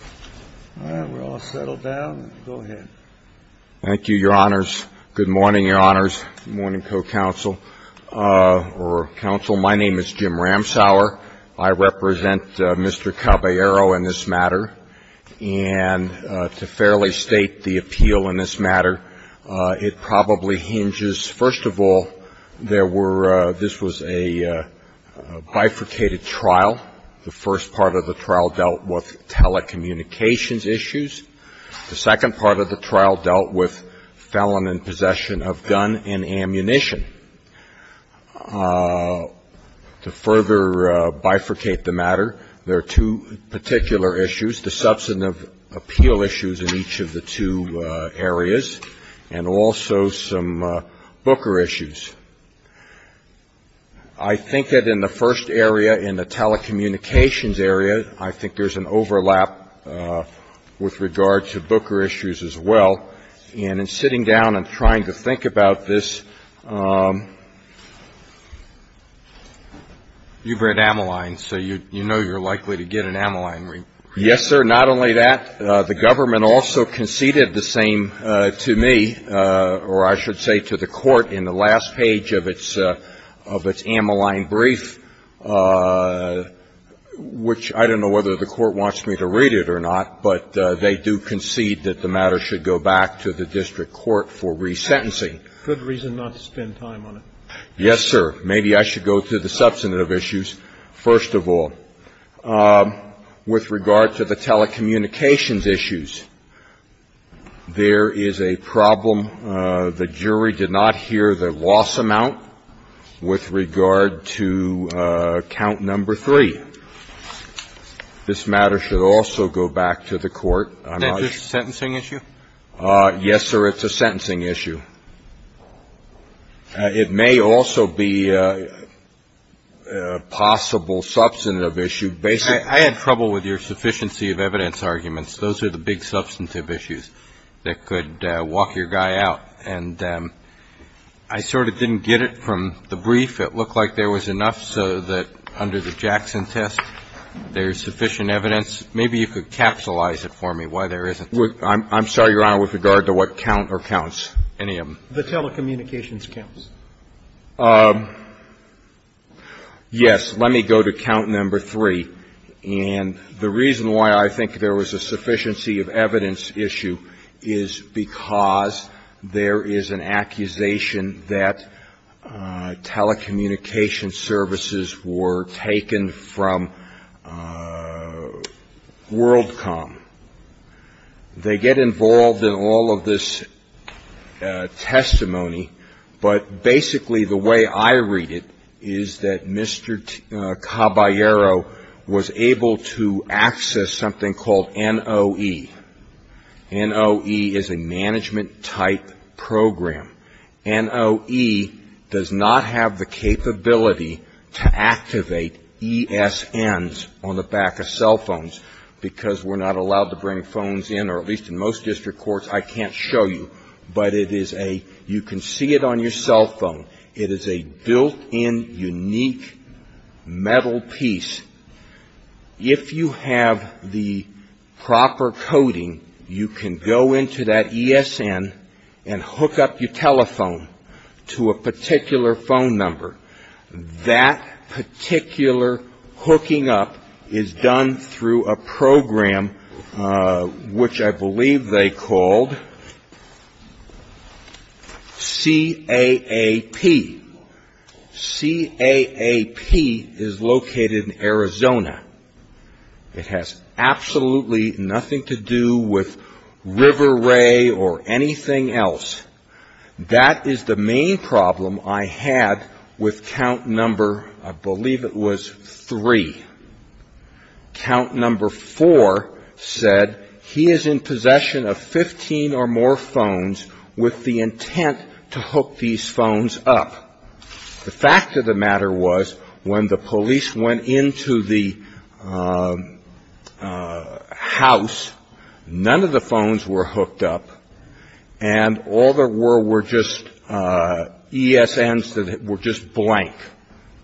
All right. We're all settled down. Go ahead. Thank you, Your Honors. Good morning, Your Honors. Good morning, co-counsel, or counsel. My name is Jim Ramsauer. I represent Mr. Caballero in this matter. And to fairly state the appeal in this matter, it probably hinges, first of all, there were this was a bifurcated trial. The first part of the trial dealt with telecommunications issues. The second part of the trial dealt with felon in possession of gun and ammunition. To further bifurcate the matter, there are two particular issues, the substantive appeal issues in each of the two areas, and also some Booker issues. I think that in the first area, in the telecommunications area, I think there's an overlap with regard to Booker issues as well. And in sitting down and trying to think about this, you've read Ammoline, so you know you're likely to get an Ammoline. Yes, sir. Not only that, the government also conceded the same to me, or I should say to the court, in the last page of its Ammoline brief, which I don't know whether the court wants me to read it or not, but they do concede that the matter should go back to the district court for resentencing. Good reason not to spend time on it. Yes, sir. Maybe I should go to the substantive issues first of all. With regard to the telecommunications issues, there is a problem. The jury did not hear the loss amount with regard to count number three. This matter should also go back to the court. Is that just a sentencing issue? Yes, sir. It's a sentencing issue. It may also be a possible substantive issue. I had trouble with your sufficiency of evidence arguments. Those are the big substantive issues that could walk your guy out. And I sort of didn't get it from the brief. It looked like there was enough so that under the Jackson test there's sufficient evidence. Maybe you could capsulize it for me, why there isn't. I'm sorry, Your Honor, with regard to what count or counts. Any of them. The telecommunications counts. Yes. Let me go to count number three. And the reason why I think there was a sufficiency of evidence issue is because there is an accusation that telecommunications services were taken from WorldCom. They get involved in all of this testimony. But basically the way I read it is that Mr. Caballero was able to access something called NOE. NOE is a management type program. NOE does not have the capability to activate ESNs on the back of cell phones because we're not allowed to bring phones in, or at least in most district courts I can't show you. But it is a you can see it on your cell phone. It is a built-in unique metal piece. If you have the proper coding, you can go into that ESN and hook up your telephone to a particular phone number. That particular hooking up is done through a program which I believe they called CAAP. CAAP is located in Arizona. It has absolutely nothing to do with River Ray or anything else. That is the main problem I had with count number I believe it was three. Count number four said he is in possession of 15 or more phones with the intent to hook these phones up. The fact of the matter was when the police went into the house, none of the phones were hooked up and all there were were just ESNs that were just blank.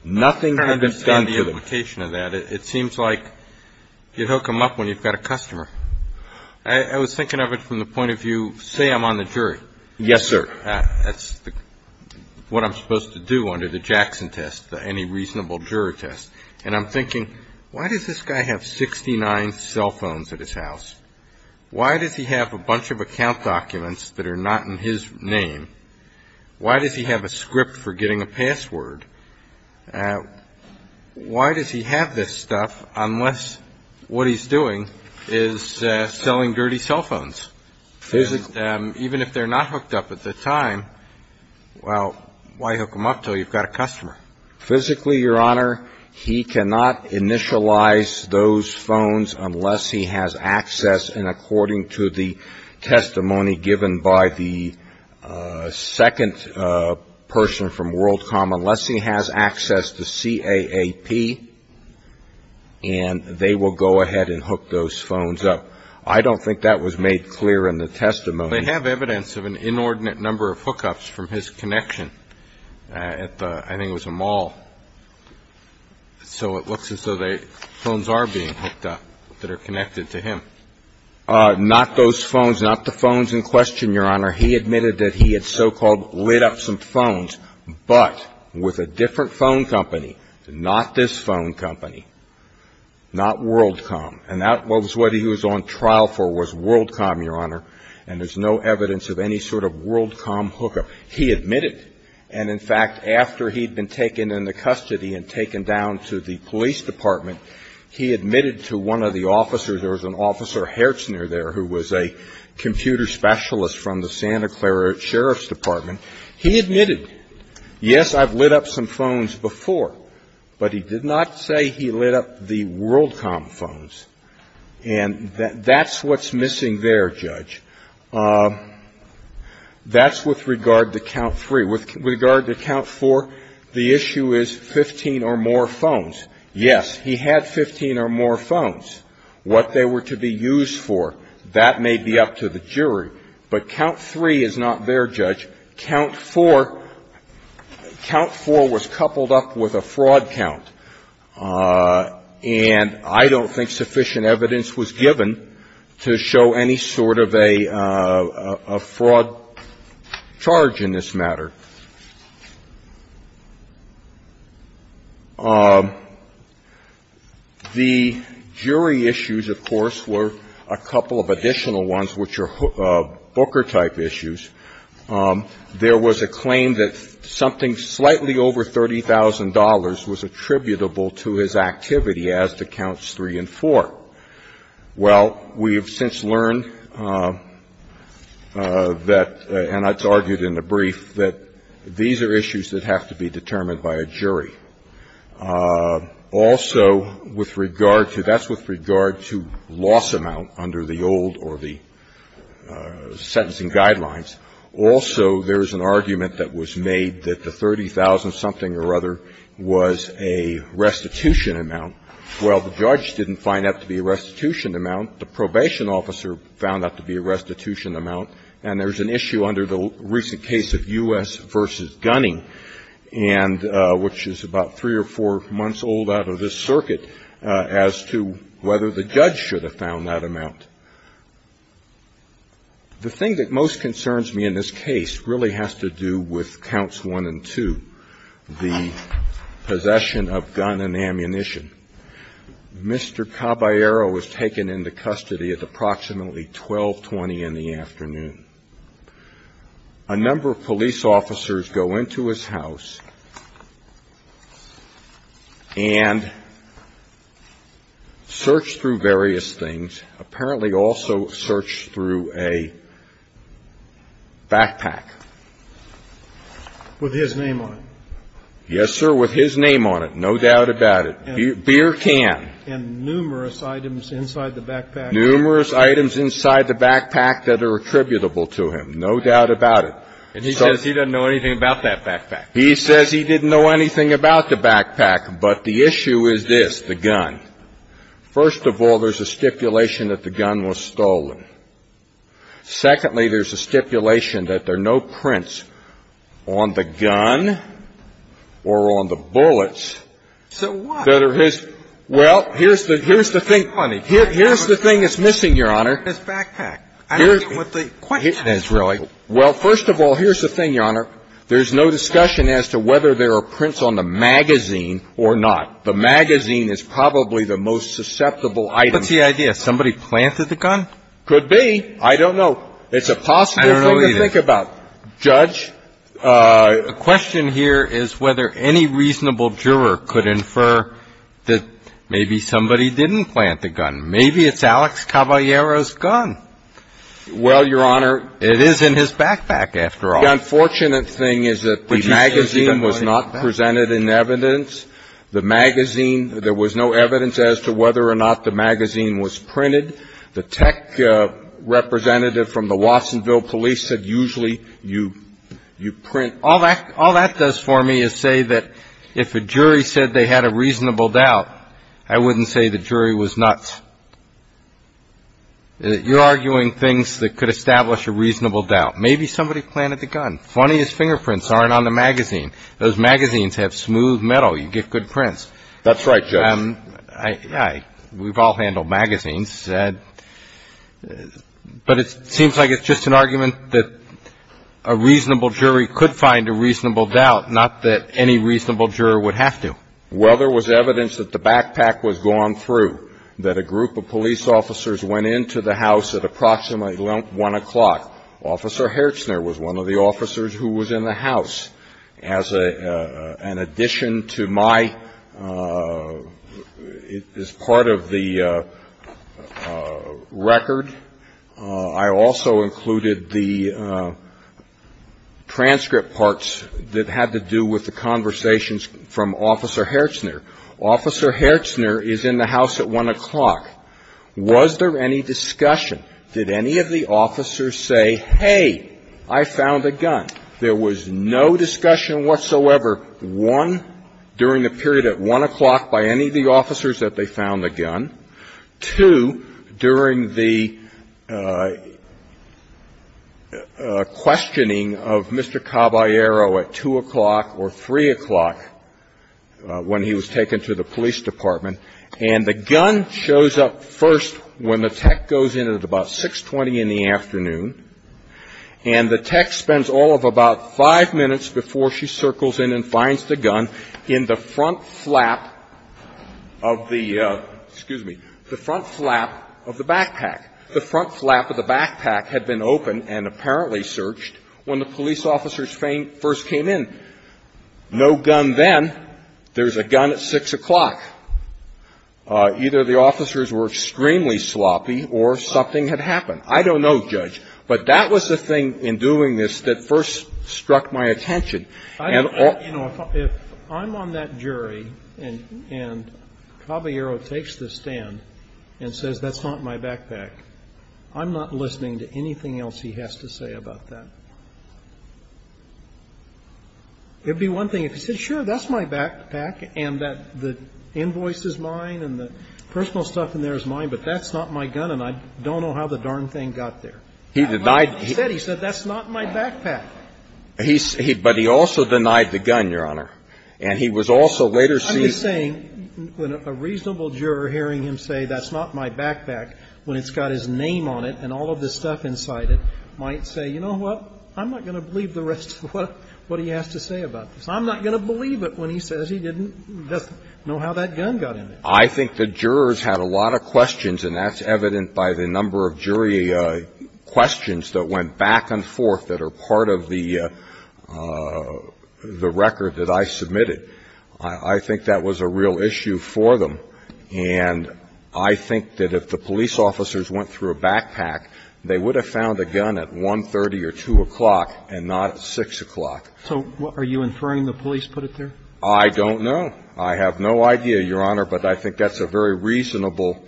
Nothing had been done to them. I don't understand the implication of that. It seems like you hook them up when you've got a customer. I was thinking of it from the point of view, say I'm on the jury. Yes, sir. That's what I'm supposed to do under the Jackson test, any reasonable jury test. And I'm thinking, why does this guy have 69 cell phones at his house? Why does he have a bunch of account documents that are not in his name? Why does he have a script for getting a password? Why does he have this stuff unless what he's doing is selling dirty cell phones? Even if they're not hooked up at the time, well, why hook them up until you've got a customer? Physically, Your Honor, he cannot initialize those phones unless he has access, and according to the testimony given by the second person from WorldCom, unless he has access to CAAP, and they will go ahead and hook those phones up. I don't think that was made clear in the testimony. They have evidence of an inordinate number of hookups from his connection at the, I think it was a mall. So it looks as though the phones are being hooked up that are connected to him. Not those phones, not the phones in question, Your Honor. He admitted that he had so-called lit up some phones, but with a different phone company, not this phone company, not WorldCom. And that was what he was on trial for was WorldCom, Your Honor, and there's no evidence of any sort of WorldCom hookup. So he admitted, and in fact, after he'd been taken into custody and taken down to the police department, he admitted to one of the officers. There was an officer, Hertzner, there, who was a computer specialist from the Santa Clara Sheriff's Department. He admitted, yes, I've lit up some phones before, but he did not say he lit up the WorldCom phones. That's with regard to count three. With regard to count four, the issue is 15 or more phones. Yes, he had 15 or more phones. What they were to be used for, that may be up to the jury. But count three is not there, Judge. Count four, count four was coupled up with a fraud count, and I don't think sufficient evidence was given to show any sort of a fraud charge in this matter. The jury issues, of course, were a couple of additional ones, which are booker-type issues. There was a claim that something slightly over $30,000 was attributable to his activity as to counts three and four. Well, we have since learned that, and it's argued in the brief, that these are issues that have to be determined by a jury. Also, with regard to that's with regard to loss amount under the old or the sentencing guidelines. Also, there is an argument that was made that the $30,000-something or other was a restitution amount. Well, the judge didn't find that to be a restitution amount. The probation officer found that to be a restitution amount. And there's an issue under the recent case of U.S. v. Gunning, and which is about three or four months old out of this circuit, as to whether the judge should have found that amount. The thing that most concerns me in this case really has to do with counts one and two, the possession of gun and ammunition. Mr. Caballero was taken into custody at approximately 1220 in the afternoon. A number of police officers go into his house and search through various things, apparently also search through a backpack. With his name on it. Yes, sir, with his name on it. No doubt about it. Beer can. And numerous items inside the backpack. Numerous items inside the backpack that are attributable to him. No doubt about it. And he says he doesn't know anything about that backpack. He says he didn't know anything about the backpack. But the issue is this, the gun. First of all, there's a stipulation that the gun was stolen. Secondly, there's a stipulation that there are no prints on the gun or on the bullets that are his. So what? Well, here's the thing. Here's the thing that's missing, Your Honor. His backpack. I don't get what the question is, really. Well, first of all, here's the thing, Your Honor. There's no discussion as to whether there are prints on the magazine or not. The magazine is probably the most susceptible item. What's the idea? Somebody planted the gun? Could be. I don't know. It's a possible thing to think about. I don't know either. Judge? The question here is whether any reasonable juror could infer that maybe somebody didn't plant the gun. Maybe it's Alex Caballero's gun. Well, Your Honor. It is in his backpack, after all. The unfortunate thing is that the magazine was not presented in evidence. The magazine, there was no evidence as to whether or not the magazine was printed. The tech representative from the Watsonville police said usually you print. All that does for me is say that if a jury said they had a reasonable doubt, I wouldn't say the jury was nuts. You're arguing things that could establish a reasonable doubt. Maybe somebody planted the gun. Funniest fingerprints aren't on the magazine. Those magazines have smooth metal. You get good prints. That's right, Judge. We've all handled magazines. But it seems like it's just an argument that a reasonable jury could find a reasonable doubt, not that any reasonable juror would have to. Well, there was evidence that the backpack was gone through, that a group of police officers went into the house at approximately 1 o'clock. Officer Hertzner was one of the officers who was in the house. As an addition to my, as part of the record, I also included the transcript parts that had to do with the conversations from Officer Hertzner. Officer Hertzner is in the house at 1 o'clock. Was there any discussion? Did any of the officers say, hey, I found a gun? There was no discussion whatsoever, one, during the period at 1 o'clock by any of the officers that they found the gun, two, during the questioning of Mr. Caballero at 2 o'clock or 3 o'clock when he was taken to the police department. And the gun shows up first when the tech goes in at about 6.20 in the afternoon. And the tech spends all of about five minutes before she circles in and finds the gun in the front flap of the, excuse me, the front flap of the backpack. The front flap of the backpack had been open and apparently searched when the police officers first came in. No gun then. There's a gun at 6 o'clock. Either the officers were extremely sloppy or something had happened. I don't know, Judge. But that was the thing in doing this that first struck my attention. And all of you know, if I'm on that jury and Caballero takes the stand and says that's not my backpack, I'm not listening to anything else he has to say about that. It would be one thing if he said, sure, that's my backpack and that the invoice is mine and the personal stuff in there is mine, but that's not my gun and I don't know how the darn thing got there. He denied he said that's not my backpack. But he also denied the gun, Your Honor. And he was also later seen. I'm just saying when a reasonable juror hearing him say that's not my backpack, when it's got his name on it and all of this stuff inside it, might say, you know what? I'm not going to believe the rest of what he has to say about this. I'm not going to believe it when he says he didn't know how that gun got in there. I think the jurors had a lot of questions, and that's evident by the number of jury questions that went back and forth that are part of the record that I submitted. I think that was a real issue for them. And I think that if the police officers went through a backpack, they would have found the gun at 1.30 or 2 o'clock and not at 6 o'clock. So are you inferring the police put it there? I don't know. I have no idea, Your Honor, but I think that's a very reasonable,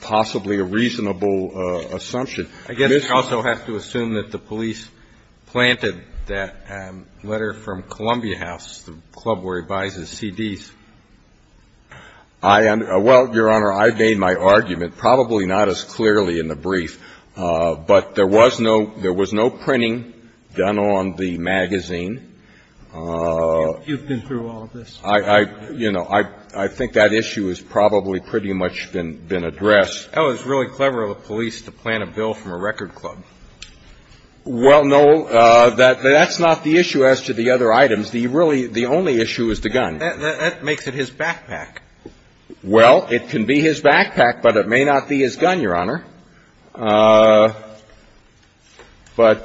possibly a reasonable assumption. I guess you also have to assume that the police planted that letter from Columbia House, the club where he buys his CDs. I am — well, Your Honor, I've made my argument, probably not as clearly in the brief. But there was no — there was no printing done on the magazine. You've been through all of this. I, you know, I think that issue has probably pretty much been addressed. That was really clever of the police to plant a bill from a record club. Well, no, that's not the issue as to the other items. The really — the only issue is the gun. That makes it his backpack. Well, it can be his backpack, but it may not be his gun, Your Honor. But — Well,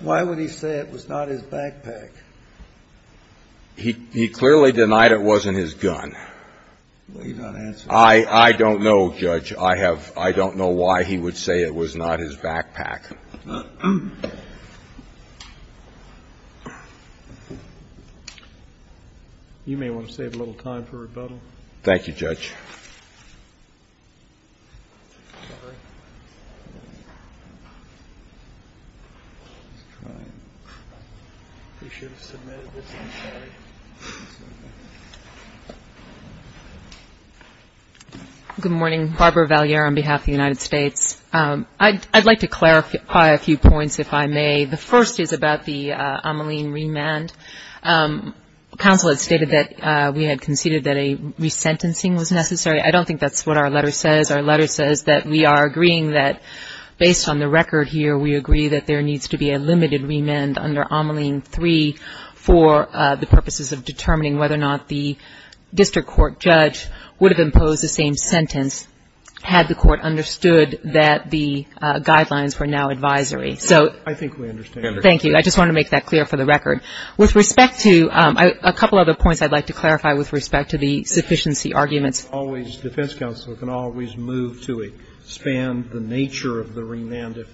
why would he say it was not his backpack? He clearly denied it wasn't his gun. Well, he's not answering. I don't know, Judge. I have — I don't know why he would say it was not his backpack. You may want to save a little time for rebuttal. Thank you, Judge. I'm sorry. I was trying. We should have submitted this on Saturday. Good morning. Barbara Valliere on behalf of the United States. I'd like to clarify a few points, if I may. The first is about the Ameline remand. Counsel had stated that we had conceded that a resentencing was necessary. I don't think that's what our letter says. Our letter says that we are agreeing that, based on the record here, we agree that there needs to be a limited remand under Ameline 3 for the purposes of determining whether or not the district court judge would have imposed the same remand. I think we understand. Thank you. I just wanted to make that clear for the record. With respect to a couple other points I'd like to clarify with respect to the sufficiency arguments. A defense counsel can always move to expand the nature of the remand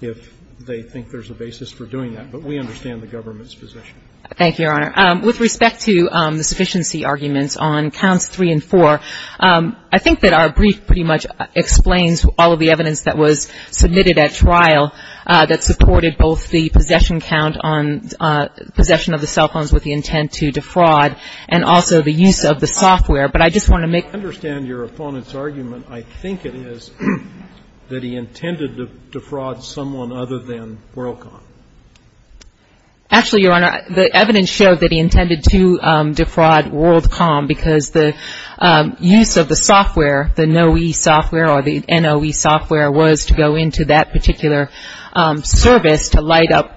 if they think there's a basis for doing that. But we understand the government's position. Thank you, Your Honor. With respect to the sufficiency arguments on counts 3 and 4, I think that our brief pretty much explains all of the evidence that was submitted at trial that supported both the possession count on possession of the cell phones with the intent to defraud and also the use of the software. But I just want to make clear. I understand your opponent's argument. I think it is that he intended to defraud someone other than WorldCom. Actually, Your Honor, the evidence showed that he intended to defraud WorldCom because the use of the software, the NOE software or the NOE software, was to go into that particular service to light up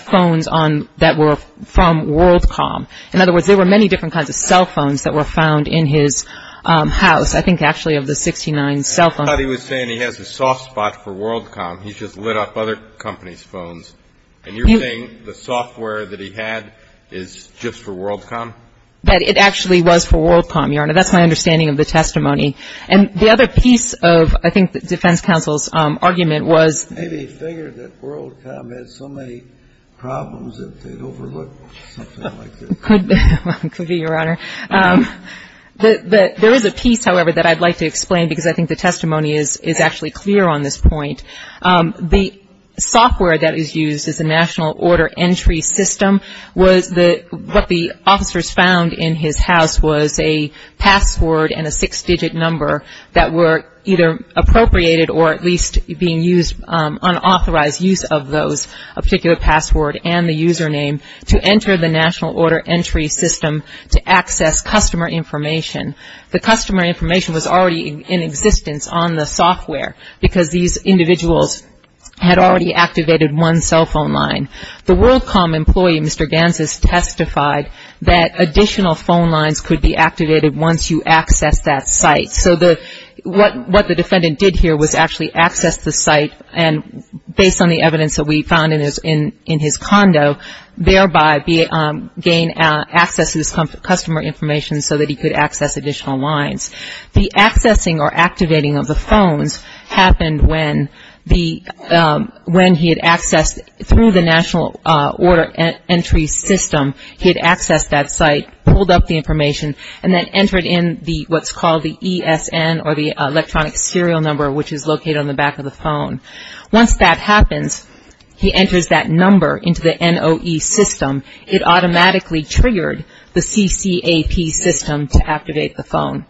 phones that were from WorldCom. In other words, there were many different kinds of cell phones that were found in his house. I think actually of the 69 cell phones. I thought he was saying he has a soft spot for WorldCom. He's just lit up other companies' phones. And you're saying the software that he had is just for WorldCom? That it actually was for WorldCom, Your Honor. That's my understanding of the testimony. And the other piece of, I think, the defense counsel's argument was. Maybe he figured that WorldCom had so many problems that they overlooked something like this. Could be, Your Honor. There is a piece, however, that I'd like to explain because I think the testimony is actually clear on this point. The software that is used is the National Order Entry System. What the officers found in his house was a password and a six-digit number that were either appropriated or at least being used, unauthorized use of those, a particular password and the username, to enter the National Order Entry System to access customer information. The customer information was already in existence on the software because these individuals had already activated one cell phone line. The WorldCom employee, Mr. Gansas, testified that additional phone lines could be activated once you accessed that site. So what the defendant did here was actually access the site, and based on the evidence that we found in his condo, thereby gain access to this customer information so that he could access additional lines. The accessing or activating of the phones happened when he had accessed, through the National Order Entry System, he had accessed that site, pulled up the information, and then entered in what's called the ESN or the electronic serial number, which is located on the back of the phone. Once that happens, he enters that number into the NOE system. It automatically triggered the CCAP system to activate the phone.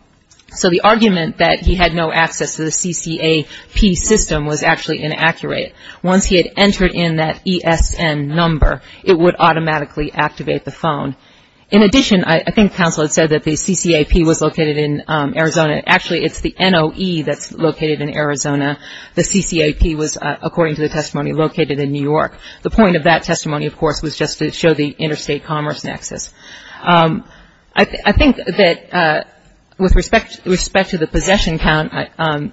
So the argument that he had no access to the CCAP system was actually inaccurate. Once he had entered in that ESN number, it would automatically activate the phone. In addition, I think counsel had said that the CCAP was located in Arizona. Actually, it's the NOE that's located in Arizona. The CCAP was, according to the testimony, located in New York. The point of that testimony, of course, was just to show the interstate commerce nexus. I think that with respect to the possession count,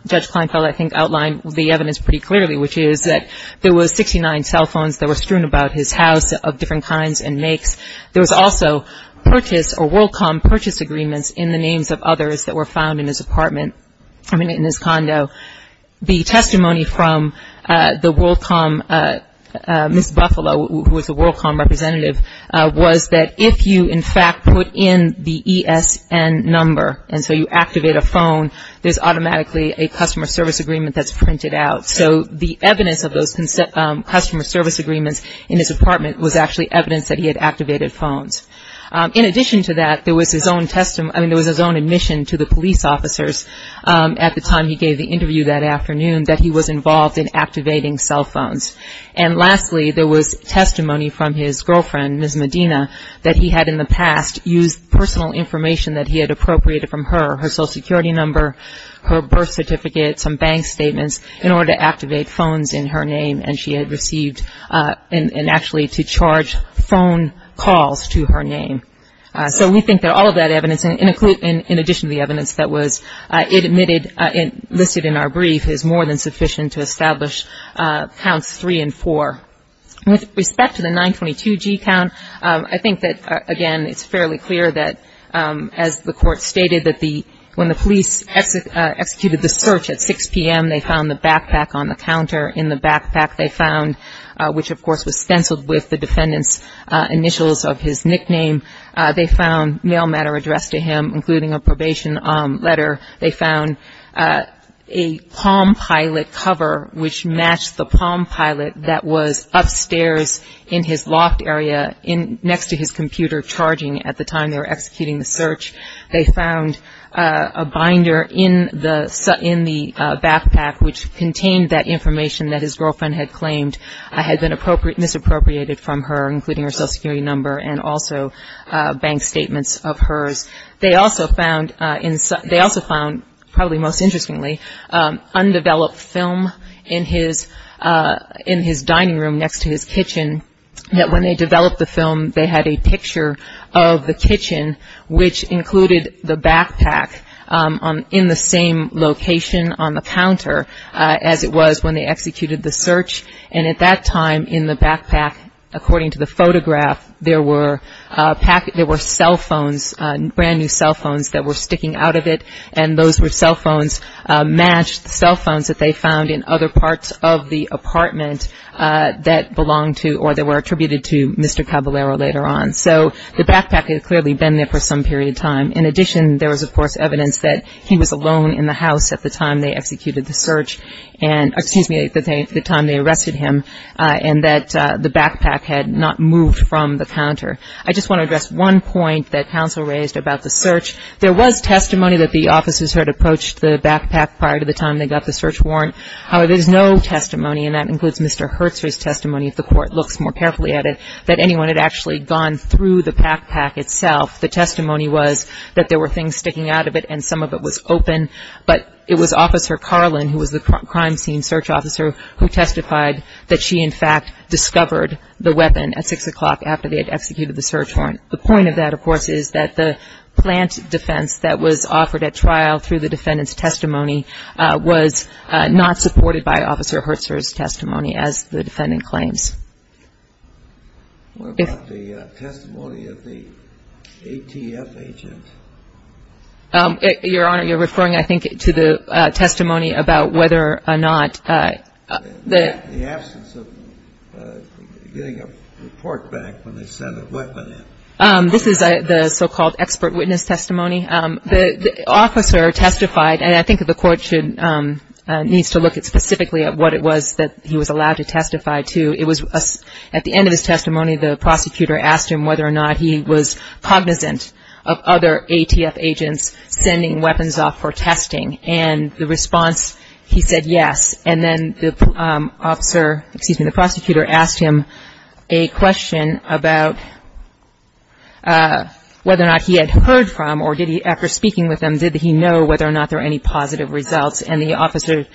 Judge Kleinfeld, I think, outlined the evidence pretty clearly, which is that there was 69 cell phones that were strewn about his house of different kinds and makes. There was also purchase or WorldCom purchase agreements in the names of others that were found in his apartment, I mean, in his condo. The testimony from the WorldCom, Ms. Buffalo, who was a WorldCom representative, was that if you, in fact, put in the ESN number and so you activate a phone, there's automatically a customer service agreement that's printed out. So the evidence of those customer service agreements in his apartment was actually evidence that he had activated phones. In addition to that, there was his own admission to the police officers at the time he gave the interview that afternoon that he was involved in activating cell phones. And lastly, there was testimony from his girlfriend, Ms. Medina, that he had in the past used personal information that he had appropriated from her, her Social Security number, her birth certificate, some bank statements, in order to activate phones in her name and she had received and actually to charge phone calls to her name. So we think that all of that evidence, in addition to the evidence that was admitted and listed in our brief is more than sufficient to establish counts three and four. With respect to the 922G count, I think that, again, it's fairly clear that as the court stated that when the police executed the search at 6 p.m., they found the backpack on the counter. In the backpack they found, which of course was stenciled with the defendant's initials of his nickname, they found mail matter addressed to him, including a probation letter. They found a Palm Pilot cover, which matched the Palm Pilot, that was upstairs in his loft area next to his computer charging at the time they were executing the search. They found a binder in the backpack, which contained that information that his girlfriend had claimed had been misappropriated from her, including her Social Security number and also bank statements of hers. They also found, probably most interestingly, undeveloped film in his dining room next to his kitchen, that when they developed the film, they had a picture of the kitchen, which included the backpack in the same location on the counter as it was when they executed the search and at that time in the backpack, according to the photograph, there were cell phones, brand new cell phones that were sticking out of it and those were cell phones, matched cell phones that they found in other parts of the apartment that belonged to or that were attributed to Mr. Caballero later on. So the backpack had clearly been there for some period of time. In addition, there was, of course, evidence that he was alone in the house at the time they executed the search and, excuse me, at the time they arrested him, and that the backpack had not moved from the counter. I just want to address one point that counsel raised about the search. There was testimony that the officers had approached the backpack prior to the time they got the search warrant. However, there's no testimony, and that includes Mr. Herzer's testimony, if the Court looks more carefully at it, that anyone had actually gone through the backpack itself. The testimony was that there were things sticking out of it and some of it was open, but it was Officer Carlin, who was the crime scene search officer, who testified that she, in fact, discovered the weapon at 6 o'clock after they had executed the search warrant. The point of that, of course, is that the plant defense that was offered at trial through the defendant's testimony was not supported by Officer Herzer's testimony, as the defendant claims. What about the testimony of the ATF agent? Your Honor, you're referring, I think, to the testimony about whether or not the --- The absence of getting a report back when they sent a weapon in. This is the so-called expert witness testimony. The officer testified, and I think the Court needs to look specifically at what it was that he was allowed to testify to. At the end of his testimony, the prosecutor asked him whether or not he was cognizant of other ATF agents sending weapons off for testing, and the response, he said yes. And then the prosecutor asked him a question about whether or not he had heard from, or after speaking with him, did he know whether or not there were any positive results, and the officer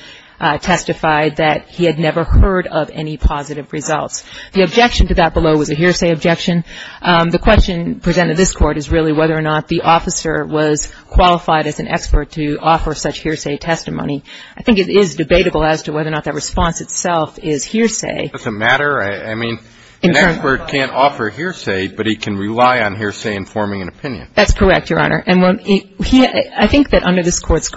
testified that he had never heard of any positive results. The objection to that below was a hearsay objection. The question presented to this Court is really whether or not the officer was qualified as an expert to offer such hearsay testimony. I think it is debatable as to whether or not that response itself is hearsay. Does it matter? I mean, an expert can't offer hearsay, but he can rely on hearsay in forming an opinion. That's correct, Your Honor. And I think that under this Court's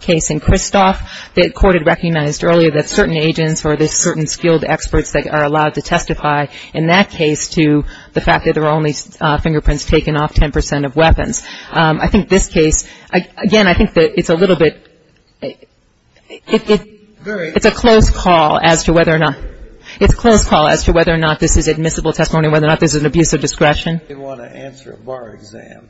case in Kristoff, the Court had recognized earlier that certain agents or there's certain skilled experts that are allowed to testify in that case to the fact that there were only fingerprints taken off 10 percent of weapons. I think this case, again, I think that it's a little bit, it's a close call as to whether or not, it's a close call as to whether or not this is admissible testimony, whether or not this is an abuse of discretion. If you want to answer a bar exam,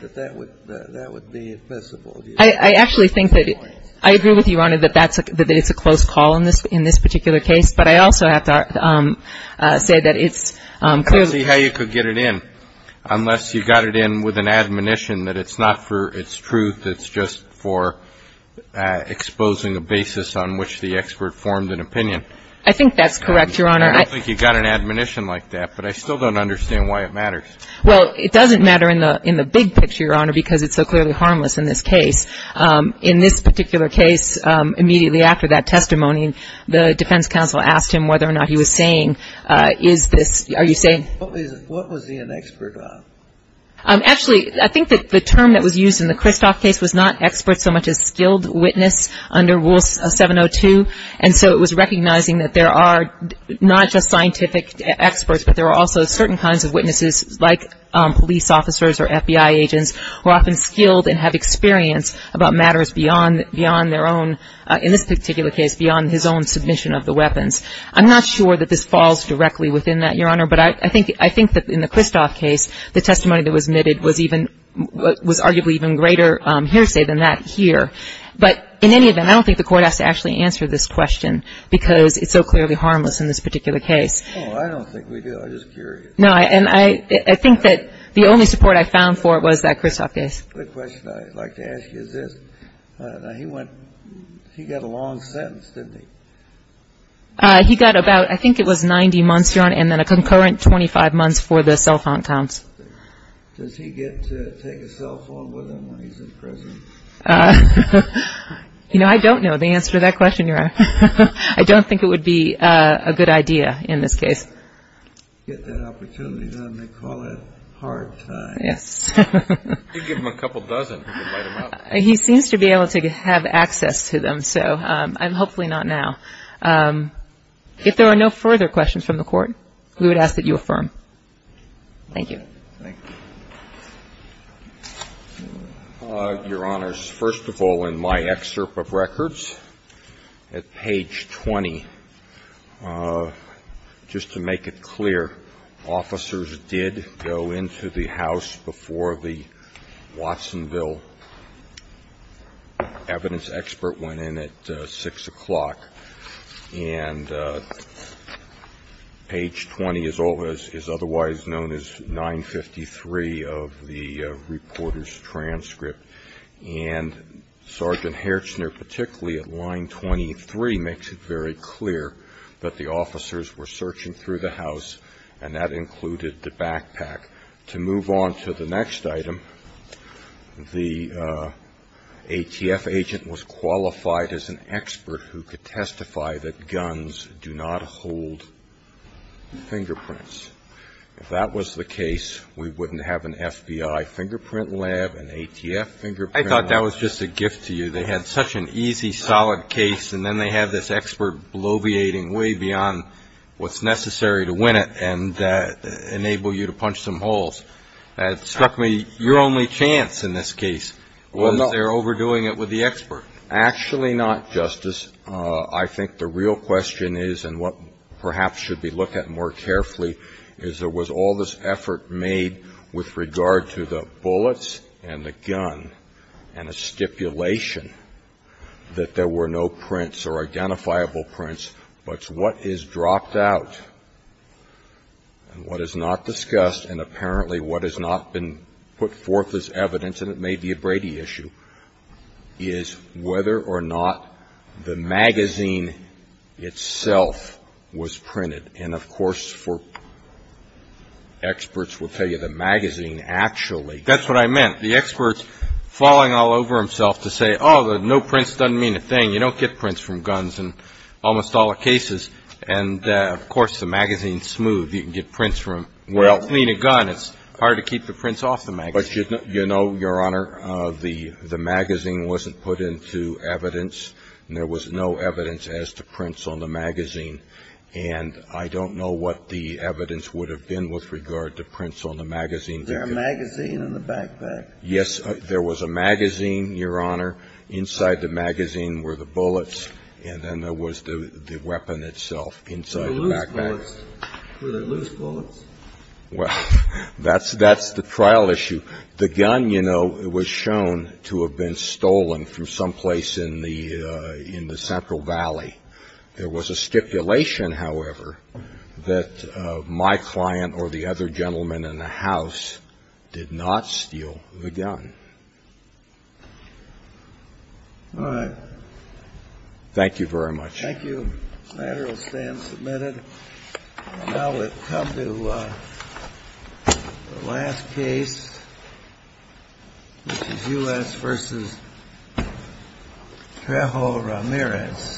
that that would be admissible. I actually think that, I agree with you, Your Honor, that it's a close call in this particular case. But I also have to say that it's clearly. Let's see how you could get it in unless you got it in with an admonition that it's not for its truth, it's just for exposing a basis on which the expert formed an opinion. I think that's correct, Your Honor. I don't think you got an admonition like that, but I still don't understand why it matters. Well, it doesn't matter in the big picture, Your Honor, because it's so clearly harmless in this case. In this particular case, immediately after that testimony, the defense counsel asked him whether or not he was saying, is this, are you saying. What was he an expert on? Actually, I think that the term that was used in the Kristoff case was not expert so much as skilled witness under Rule 702. And so it was recognizing that there are not just scientific experts, but there are also certain kinds of witnesses like police officers or FBI agents who are often skilled and have experience about matters beyond their own, in this particular case, beyond his own submission of the weapons. I'm not sure that this falls directly within that, Your Honor. But I think that in the Kristoff case, the testimony that was omitted was even, was arguably even greater hearsay than that here. But in any event, I don't think the Court has to actually answer this question because it's so clearly harmless in this particular case. Oh, I don't think we do. I'm just curious. No, and I think that the only support I found for it was that Kristoff case. Quick question I'd like to ask you is this. Now, he went, he got a long sentence, didn't he? He got about, I think it was 90 months, Your Honor, and then a concurrent 25 months for the cell phone counts. Does he get to take a cell phone with him when he's in prison? You know, I don't know the answer to that question, Your Honor. I don't think it would be a good idea in this case. Get that opportunity. They call it hard time. Yes. You could give him a couple dozen. He could light them up. He seems to be able to have access to them, so hopefully not now. If there are no further questions from the Court, we would ask that you affirm. Thank you. Thank you. Your Honors, first of all, in my excerpt of records at page 20, just to make it clear, officers did go into the house before the Watsonville evidence expert went in at 6 o'clock. And page 20 is otherwise known as 953 of the reporter's transcript. And Sergeant Hertzner, particularly at line 23, makes it very clear that the officers were searching through the house, and that included the backpack. To move on to the next item, the ATF agent was qualified as an expert who could testify that guns do not hold fingerprints. If that was the case, we wouldn't have an FBI fingerprint lab, an ATF fingerprint lab. I thought that was just a gift to you. They had such an easy, solid case, and then they have this expert bloviating way beyond what's necessary to win it and enable you to punch some holes. It struck me your only chance in this case was their overdoing it with the expert. Actually not, Justice. I think the real question is, and what perhaps should be looked at more carefully, is there was all this effort made with regard to the bullets and the gun, and a stipulation that there were no prints or identifiable prints, but what is dropped out and what is not discussed, and apparently what has not been put forth as evidence, and it may be a Brady issue, is whether or not the magazine itself was printed. And, of course, for experts, we'll tell you the magazine actually. That's what I meant. The expert's falling all over himself to say, oh, the no prints doesn't mean a thing. You don't get prints from guns in almost all the cases. And, of course, the magazine's smooth. You can get prints from cleaning a gun. It's hard to keep the prints off the magazine. But you know, Your Honor, the magazine wasn't put into evidence, and there was no evidence as to prints on the magazine. And I don't know what the evidence would have been with regard to prints on the magazine. There was a magazine in the backpack. Yes. There was a magazine, Your Honor. Inside the magazine were the bullets, and then there was the weapon itself inside the backpack. Were they loose bullets? Well, that's the trial issue. The gun, you know, was shown to have been stolen from someplace in the Central Valley. There was a stipulation, however, that my client or the other gentleman in the house did not steal the gun. All right. Thank you very much. Thank you. The matter will stand submitted. Now we'll come to the last case, which is U.S. versus Trejo Ramirez. Thank you.